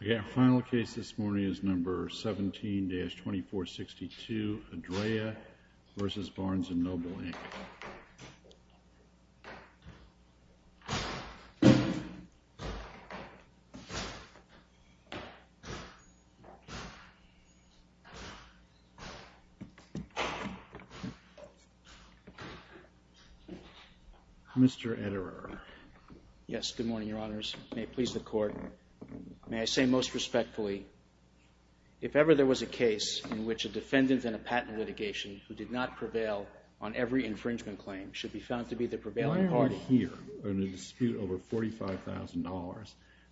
The final case this morning is number 17-2462, Adrea v. Barnes & Noble, Inc. Mr. Ederer. Yes, good morning, Your Honors. May it please the Court. May I say most respectfully, if ever there was a case in which a defendant in a patent litigation who did not prevail on every infringement claim should be found to be the prevailing party. Why are we here in a dispute over $45,000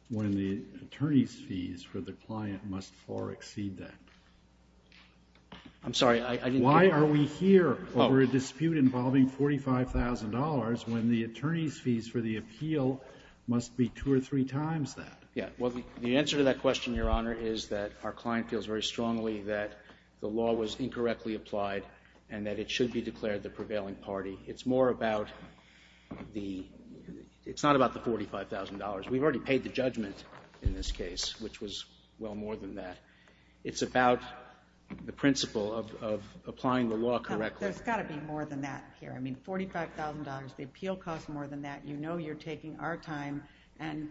when the attorney's fees for the client must far exceed that? I'm sorry, I didn't get that. Why are we here over a dispute involving $45,000 when the attorney's fees for the appeal must be two or three times that? Yeah, well, the answer to that question, Your Honor, is that our client feels very strongly that the law was incorrectly applied and that it should be declared the prevailing party. It's more about the, it's not about the $45,000. We've already paid the judgment in this case, which was well more than that. It's about the principle of applying the law correctly. There's got to be more than that here. I mean, $45,000, the appeal costs more than that. You know you're taking our time and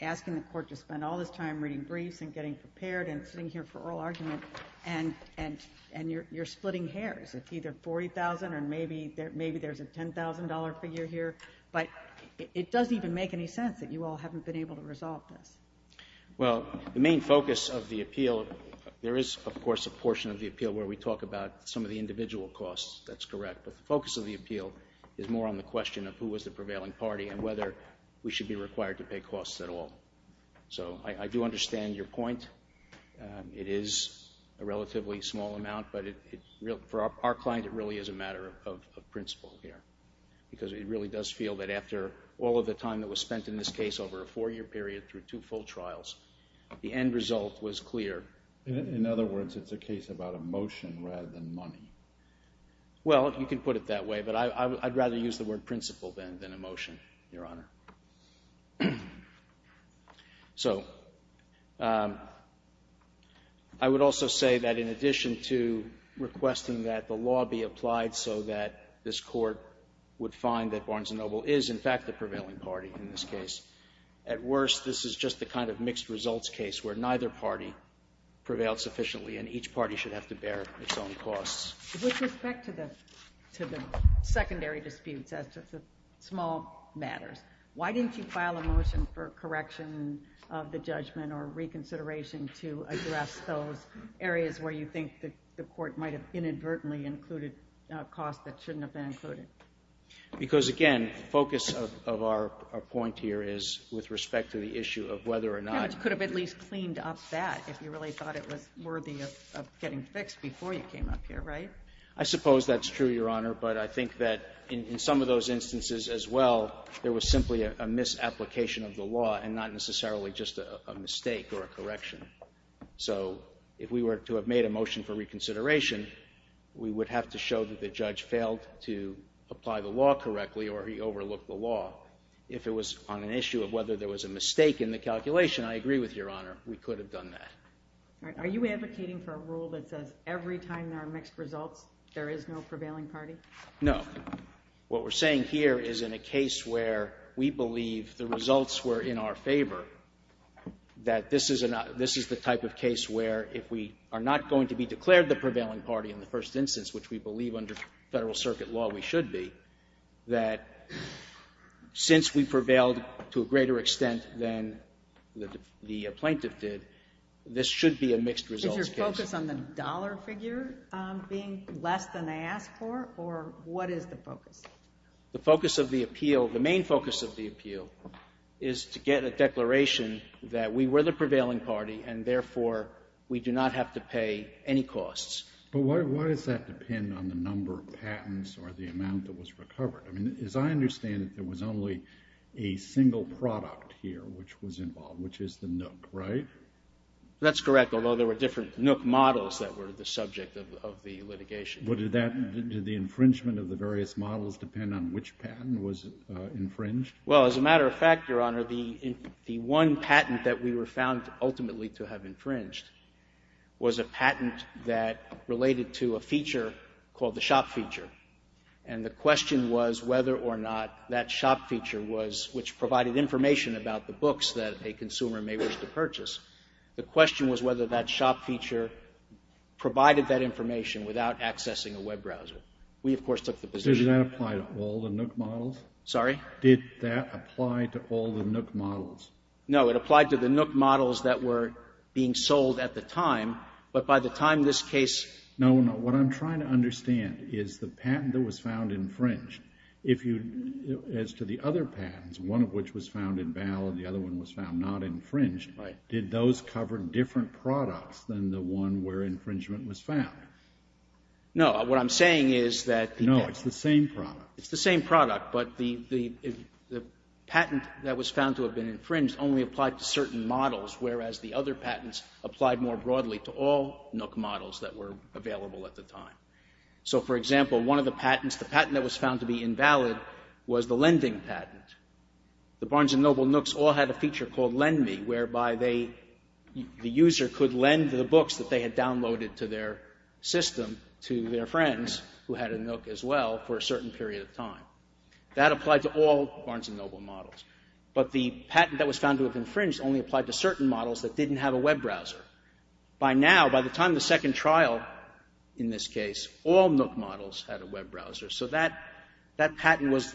asking the court to spend all this time reading briefs and getting prepared and sitting here for oral argument, and you're splitting hairs. It's either $40,000 or maybe there's a $10,000 figure here. But it doesn't even make any sense that you all haven't been able to resolve this. Well, the main focus of the appeal, there is, of course, a portion of the appeal where we talk about some of the individual costs. That's correct. But the focus of the appeal is more on the question of who was the prevailing party and whether we should be required to pay costs at all. So I do understand your point. It is a relatively small amount, but for our client, it really is a matter of principle here, because it really does feel that after all of the time that was spent in this case over a four-year period through two full trials, the end result was clear. Well, you can put it that way, but I'd rather use the word principle than a motion, Your Honor. So I would also say that in addition to requesting that the law be applied so that this court would find that Barnes & Noble is, in fact, the prevailing party in this case, at worst, this is just the kind of mixed results case where neither party prevailed sufficiently and each party should have to bear its own costs. With respect to the secondary disputes as to the small matters, why didn't you file a motion for correction of the judgment or reconsideration to address those areas where you think the court might have inadvertently included costs that shouldn't have been included? Because again, the focus of our point here is with respect to the issue of whether or not— I suppose that's true, Your Honor, but I think that in some of those instances as well, there was simply a misapplication of the law and not necessarily just a mistake or a correction. So if we were to have made a motion for reconsideration, we would have to show that the judge failed to apply the law correctly or he overlooked the law. If it was on an issue of whether there was a mistake in the calculation, I agree with Your Honor. We could have done that. All right. Are you advocating for a rule that says every time there are mixed results there is no prevailing party? No. What we're saying here is in a case where we believe the results were in our favor, that this is the type of case where if we are not going to be declared the prevailing party in the first instance, which we believe under Federal Circuit law we should be, that since we prevailed to a greater extent than the plaintiff did, this should be a mixed results case. Is your focus on the dollar figure being less than they asked for, or what is the focus? The focus of the appeal, the main focus of the appeal, is to get a declaration that we were the prevailing party and, therefore, we do not have to pay any costs. But why does that depend on the number of patents or the amount that was recovered? I mean, as I understand it, there was only a single product here which was involved, which is the nook, right? That's correct, although there were different nook models that were the subject of the litigation. But did that, did the infringement of the various models depend on which patent was infringed? Well, as a matter of fact, Your Honor, the one patent that we were found ultimately to have infringed was a patent that related to a feature called the shop feature. And the question was whether or not that shop feature was, which provided information about the books that a consumer may wish to purchase, the question was whether that shop feature provided that information without accessing a web browser. We of course took the position. Did that apply to all the nook models? Sorry? Did that apply to all the nook models? No. It applied to the nook models that were being sold at the time, but by the time this case No, no. What I'm trying to understand is the patent that was found infringed, if you, as to the other patents, one of which was found invalid, the other one was found not infringed, did those cover different products than the one where infringement was found? No. What I'm saying is that No. It's the same product. It's the same product, but the patent that was found to have been infringed only applied to certain models, whereas the other patents applied more broadly to all nook models that were available at the time. So for example, one of the patents, the patent that was found to be invalid was the lending patent. The Barnes & Noble nooks all had a feature called Lend Me, whereby they, the user could lend the books that they had downloaded to their system to their friends, who had a nook as well, for a certain period of time. That applied to all Barnes & Noble models, but the patent that was found to have infringed only applied to certain models that didn't have a web browser. By now, by the time of the second trial in this case, all nook models had a web browser. So that patent was,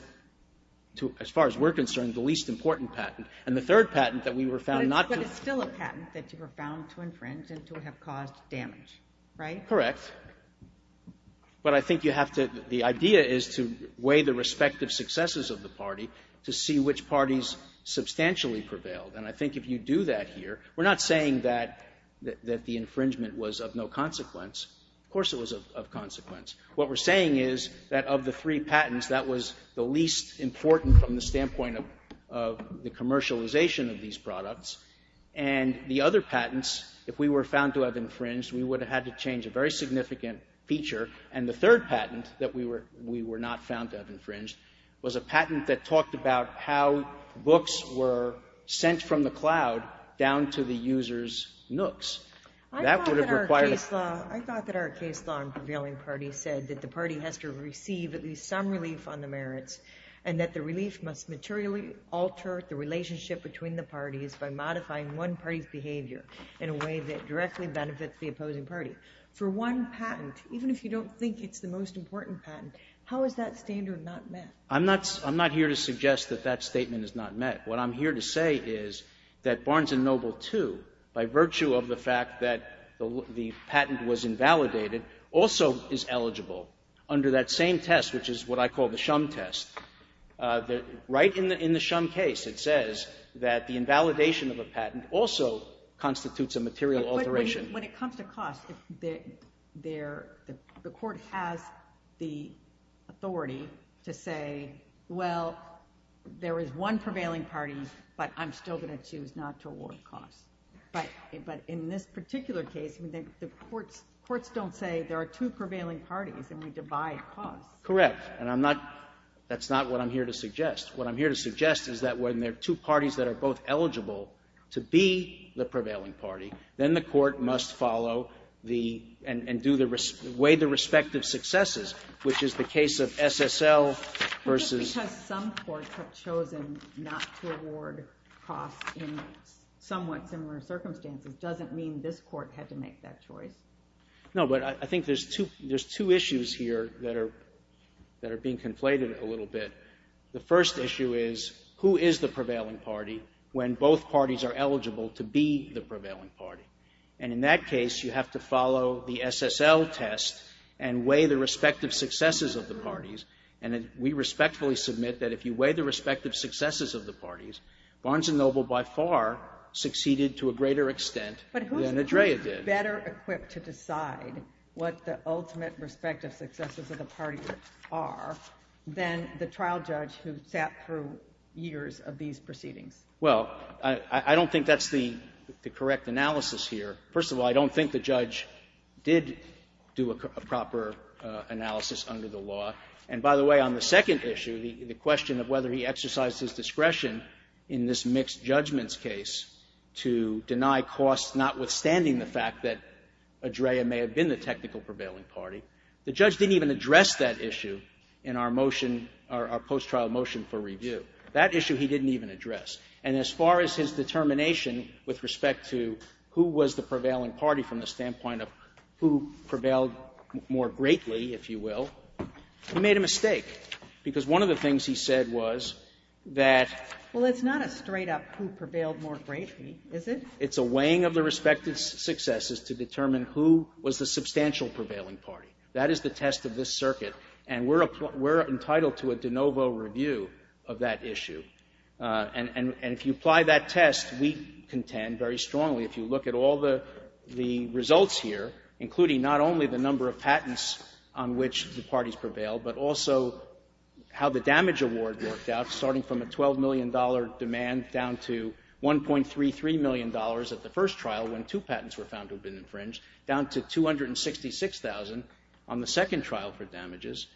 as far as we're concerned, the least important patent. And the third patent that we were found not to But it's still a patent that you were found to infringe and to have caused damage, right? Correct. But I think you have to, the idea is to weigh the respective successes of the party to see which parties substantially prevailed. And I think if you do that here, we're not saying that the infringement was of no consequence. Of course it was of consequence. What we're saying is that of the three patents, that was the least important from the standpoint of the commercialization of these products. And the other patents, if we were found to have infringed, we would have had to change a very significant feature. And the third patent that we were not found to have infringed was a patent that talked about how books were sent from the cloud down to the user's nooks. I thought that our case law and prevailing party said that the party has to receive at least some relief on the merits and that the relief must materially alter the relationship between the parties by modifying one party's behavior in a way that directly benefits the opposing party. For one patent, even if you don't think it's the most important patent, how is that standard not met? I'm not here to suggest that that statement is not met. What I'm here to say is that Barnes & Noble II, by virtue of the fact that the patent was invalidated, also is eligible under that same test, which is what I call the Shum test. Right in the Shum case, it says that the invalidation of a patent also constitutes a material alteration. When it comes to costs, the court has the authority to say, well, there is one prevailing party, but I'm still going to choose not to award costs. But in this particular case, the courts don't say there are two prevailing parties and we divide costs. Correct. And that's not what I'm here to suggest. What I'm here to suggest is that when there are two parties that are both eligible to be the prevailing party, then the court must follow and weigh the respective successes, which is the case of SSL versus... Just because some courts have chosen not to award costs in somewhat similar circumstances doesn't mean this court had to make that choice. No, but I think there's two issues here that are being conflated a little bit. The first issue is, who is the prevailing party when both parties are eligible to be the prevailing party? And in that case, you have to follow the SSL test and weigh the respective successes of the parties. And we respectfully submit that if you weigh the respective successes of the parties, Barnes & Noble by far succeeded to a greater extent than Adrea did. But who's better equipped to decide what the ultimate respective successes of the trial judge who sat through years of these proceedings? Well, I don't think that's the correct analysis here. First of all, I don't think the judge did do a proper analysis under the law. And by the way, on the second issue, the question of whether he exercised his discretion in this mixed judgments case to deny costs, notwithstanding the fact that Adrea may have been the technical prevailing party, the judge didn't even post-trial motion for review. That issue he didn't even address. And as far as his determination with respect to who was the prevailing party from the standpoint of who prevailed more greatly, if you will, he made a mistake. Because one of the things he said was that — Well, it's not a straight-up who prevailed more greatly, is it? It's a weighing of the respective successes to determine who was the substantial prevailing party. That is the test of this circuit. And we're entitled to a de novo review of that issue. And if you apply that test, we contend very strongly, if you look at all the results here, including not only the number of patents on which the parties prevailed, but also how the damage award worked out, starting from a $12 million demand down to $1.33 million at the first trial when two patents were found to have been infringed, down to $266,000 on the second trial for damages,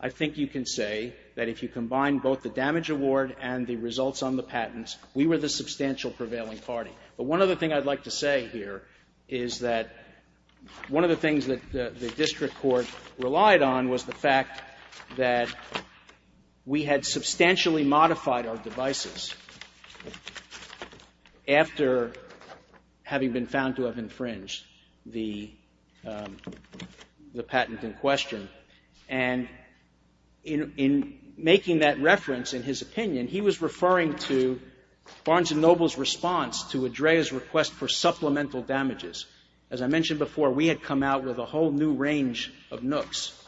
I think you can say that if you combine both the damage award and the results on the patents, we were the substantial prevailing party. But one other thing I'd like to say here is that one of the things that the district court relied on was the fact that we had substantially modified our devices after having been found to have infringed the patent in question. And in making that reference, in his opinion, he was referring to Barnes & Noble's response to ADREA's request for supplemental damages. As I mentioned before, we had come out with a whole new range of nooks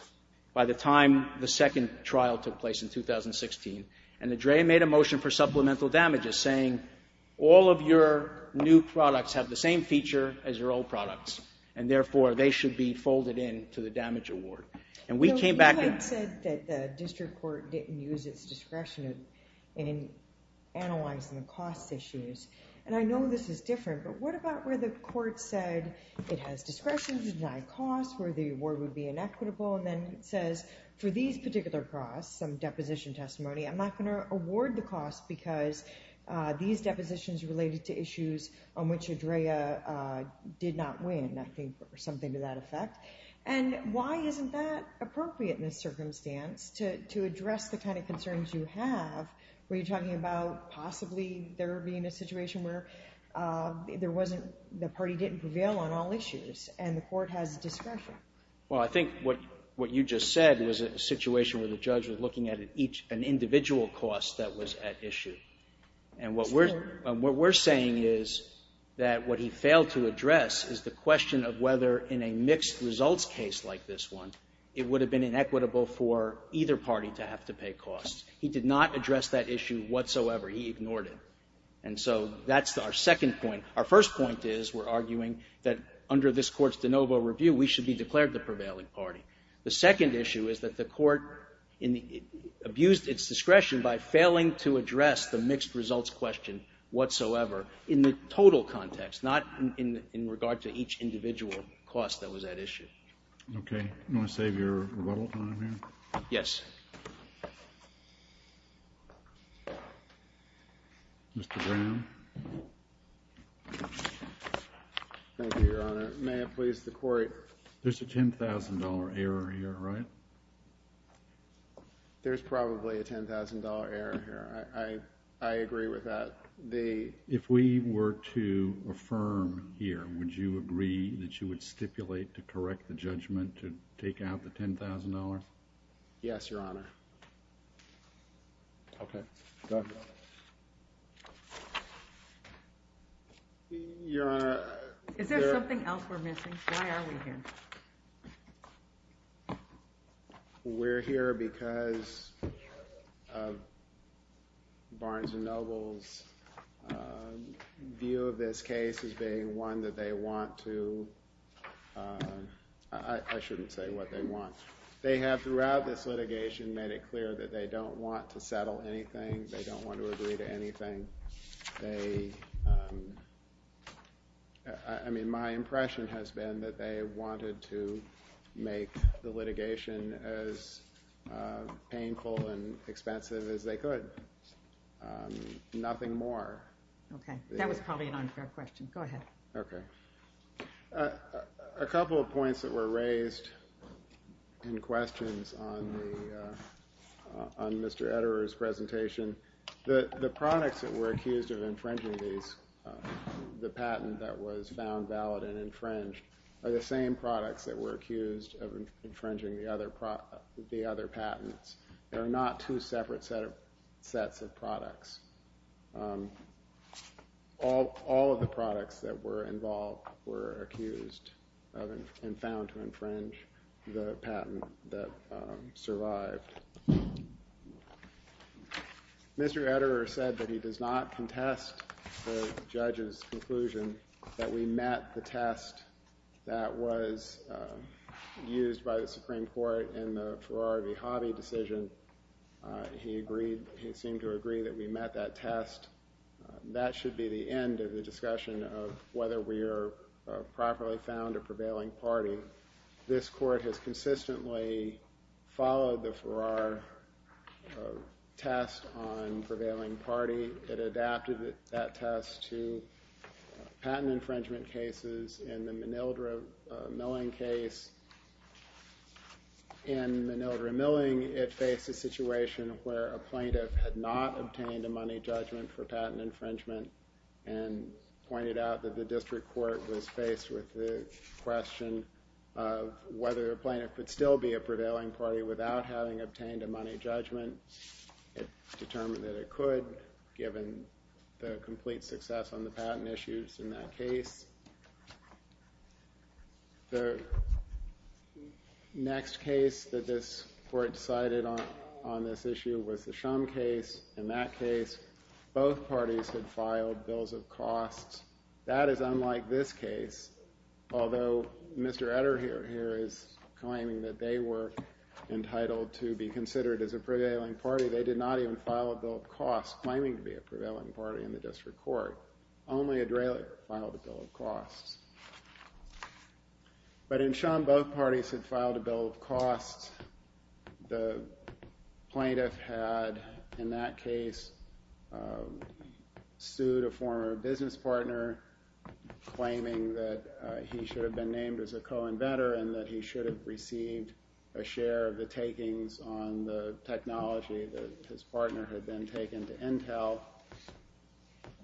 by the time the second trial took place in 2016. And ADREA made a motion for supplemental damages, saying all of your new products have the same feature as your old products, and therefore they should be folded in to the damage award. And we came back... You had said that the district court didn't use its discretion in analyzing the cost issues, and I know this is different, but what about where the court said it has discretion to deny costs, where the award would be inequitable, and then says, for these particular costs, some deposition testimony, I'm not going to award the cost because these depositions related to issues on which ADREA did not win, I think, or something to that effect. And why isn't that appropriate in this circumstance to address the kind of concerns you have, where you're talking about possibly there being a situation where there wasn't... The party didn't prevail on all issues, and the court has discretion? Well, I think what you just said was a situation where the judge was looking at an individual cost that was at issue. And what we're saying is that what he failed to address is the question of whether in a mixed results case like this one, it would have been inequitable for either party to have to pay costs. He did not address that issue whatsoever. He ignored it. And so that's our second point. Our first point is we're arguing that under this court's de novo review, we should be declared the prevailing party. The second issue is that the court abused its discretion by failing to address the mixed results question whatsoever in the total context, not in regard to each individual cost that was at issue. Okay. You want to save your rebuttal time here? Yes. Mr. Brown? Thank you, Your Honor. May it please the court? There's a $10,000 error here, right? There's probably a $10,000 error here. I agree with that. If we were to affirm here, would you agree that you would stipulate to correct the judgment to take out the $10,000? Yes, Your Honor. Okay. Your Honor. Is there something else we're missing? Why are we here? We're here because of Barnes & Noble's view of this case as being one that they want to, I shouldn't say what they want. They have, throughout this litigation, made it clear that they don't want to settle anything. They don't want to agree to anything. I mean, my impression has been that they wanted to make the litigation as painful and expensive as they could. Nothing more. Okay. That was probably an unfair question. Go ahead. Okay. A couple of points that were raised in questions on Mr. Ederer's presentation. The products that were accused of infringing these, the patent that was found valid and infringed, are the same products that were accused of infringing the other patents. They're not two separate sets of products. All of the products that were involved were accused of and found to infringe the patent that survived. Mr. Ederer said that he does not contest the judge's conclusion that we met the test that was used by the Supreme Court in the Ferrari V. Hobby decision. He seemed to agree that we met that test. That should be the end of the discussion of whether we are properly found a prevailing party. This court has consistently followed the Ferrari test on prevailing party. It adapted that test to patent infringement cases. In the Manildra-Milling case, in Manildra-Milling, it faced a situation where a plaintiff had not obtained a money judgment for patent infringement and pointed out that the district court was faced with the question of whether a plaintiff could still be a prevailing party without having obtained a money judgment. It determined that it could, given the complete success on the patent issues in that case. The next case that this court cited on this issue was the Shum case. In that case, both parties had filed bills of costs. That is unlike this case, although Mr. Ederer here is claiming that they were entitled to be considered as a prevailing party. They did not even file a bill of costs, claiming to be a prevailing party in the district court. Only Ederer filed a bill of costs. But in Shum, both parties had filed a bill of costs. The plaintiff had, in that case, sued a former business partner, claiming that he should have been named as a co-inventor and that he should have received a share of the takings on the technology that his partner had then taken to Intel.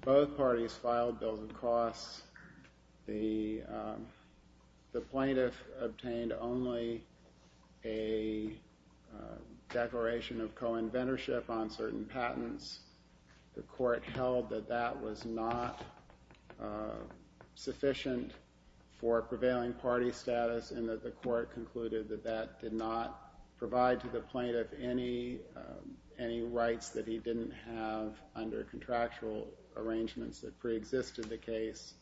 Both parties filed bills of costs. The plaintiff obtained only a declaration of co-inventorship on certain patents. The court held that that was not sufficient for a prevailing party status and that the court concluded that that did not provide to the under contractual arrangements that preexisted the case.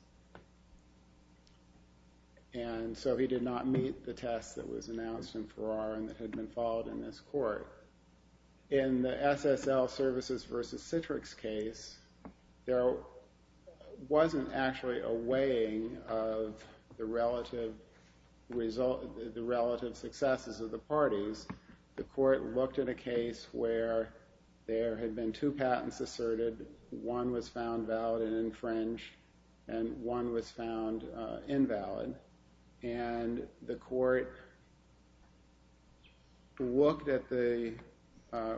And so he did not meet the test that was announced in Farrar and that had been followed in this court. In the SSL services versus Citrix case, there wasn't actually a weighing of the relative successes of the parties. The court looked at a case where there had been two patents asserted. One was found valid and infringed and one was found invalid. And the court looked at the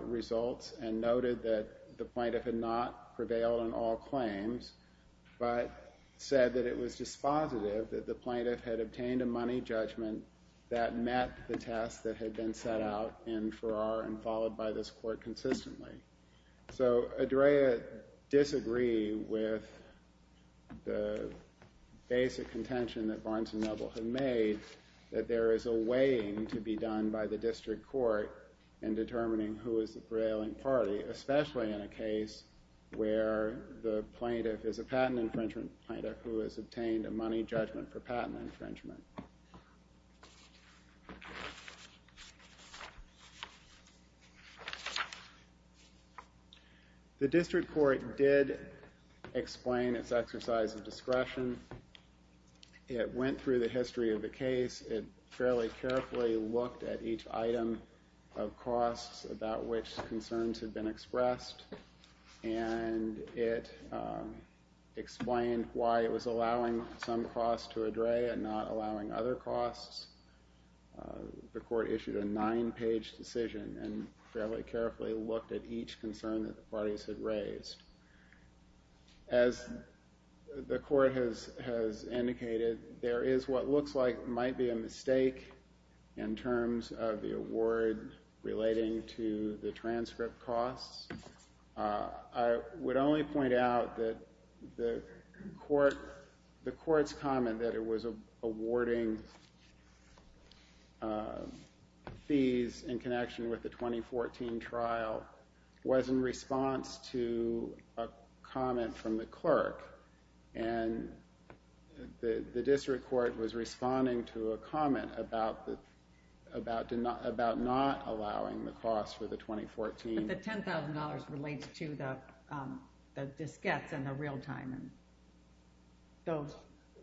results and noted that the plaintiff had not prevailed on all claims, but said that it was dispositive that the plaintiff had obtained a money judgment that met the test that had been set out in Farrar and followed by this court consistently. So Adria disagreed with the basic contention that Barnes & Noble had made that there is a weighing to be done by the district court in determining who is the prevailing party, especially in a case where the plaintiff is a patent infringement plaintiff who has obtained a money judgment for patent infringement. The district court did explain its exercise of discretion. It went through the history of the case. It fairly carefully looked at each item of costs about which concerns had been expressed and it explained why it was allowing some costs to Adria and not allowing other costs. The court issued a nine-page decision and fairly carefully looked at each concern that the parties had raised. As the court has indicated, there is what looks like might be a mistake in terms of the award relating to the transcript costs. I would only point out that the court's comment that it was awarding fees in connection with the 2014 trial was in response to a comment from the clerk and the district court was responding to a comment about not allowing the costs for the 2014. But the $10,000 relates to the disquettes and the real time. So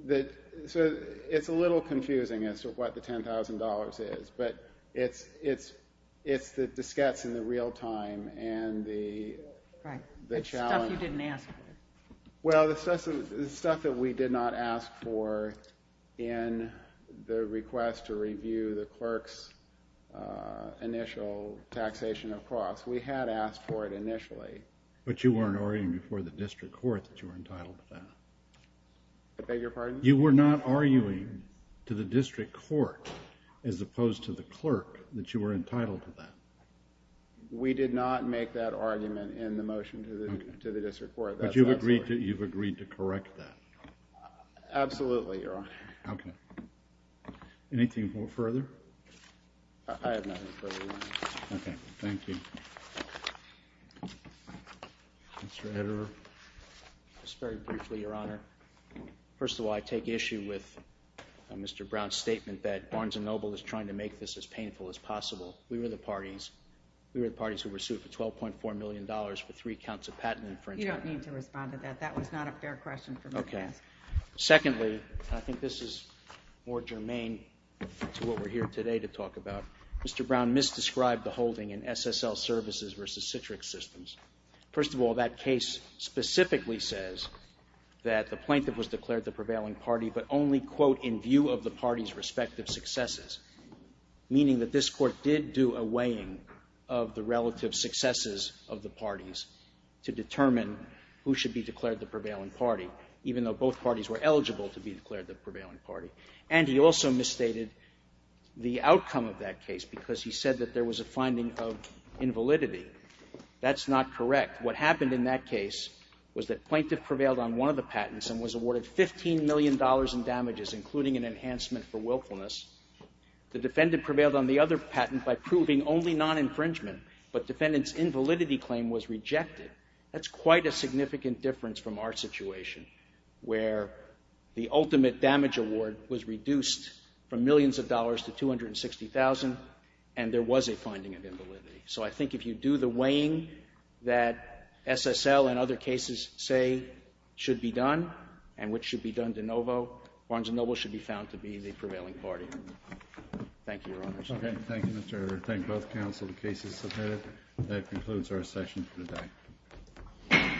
it's a little confusing as to what the $10,000 is, but it's the disquettes and the real time and the challenge. The stuff you didn't ask for. Well, the stuff that we did not ask for in the request to review the clerk's initial taxation of costs. We had asked for it initially. But you weren't arguing before the district court that you were entitled to that. I beg your pardon? You were not arguing to the district court as opposed to the clerk that you were entitled to that. We did not make that argument in the motion to the district court. But you've agreed to correct that? Absolutely, Your Honor. OK. Anything further? I have nothing further to add. OK. Thank you. Mr. Ederer. Just very briefly, Your Honor. First of all, I take issue with Mr. Brown's statement that Barnes & Noble is trying to make this as painful as possible. We were the parties who were sued for $12.4 million for three counts of patent infringement. You don't need to respond to that. That was not a fair question for me to ask. Secondly, and I think this is more germane to what we're here today to talk about, Mr. Brown misdescribed the holding in SSL services versus Citrix systems. First of all, that case specifically says that the plaintiff was declared the prevailing party, but only, quote, of the party's respective successes, meaning that this court did do a weighing of the relative successes of the parties to determine who should be declared the prevailing party, even though both parties were eligible to be declared the prevailing party. And he also misstated the outcome of that case because he said that there was a finding of invalidity. That's not correct. What happened in that case was that plaintiff prevailed on one of the patents and was awarded $15 million in damages, including an enhancement for willfulness. The defendant prevailed on the other patent by proving only non-infringement, but defendant's invalidity claim was rejected. That's quite a significant difference from our situation where the ultimate damage award was reduced from millions of dollars to $260,000, and there was a finding of invalidity. So I think if you do the weighing that SSL and other cases say should be done, and which should be done de novo, Barnes & Noble should be found to be the prevailing party. Thank you, Your Honor. Thank you, Mr. Erdrich. Thank both counsel, the case is submitted. That concludes our session for today.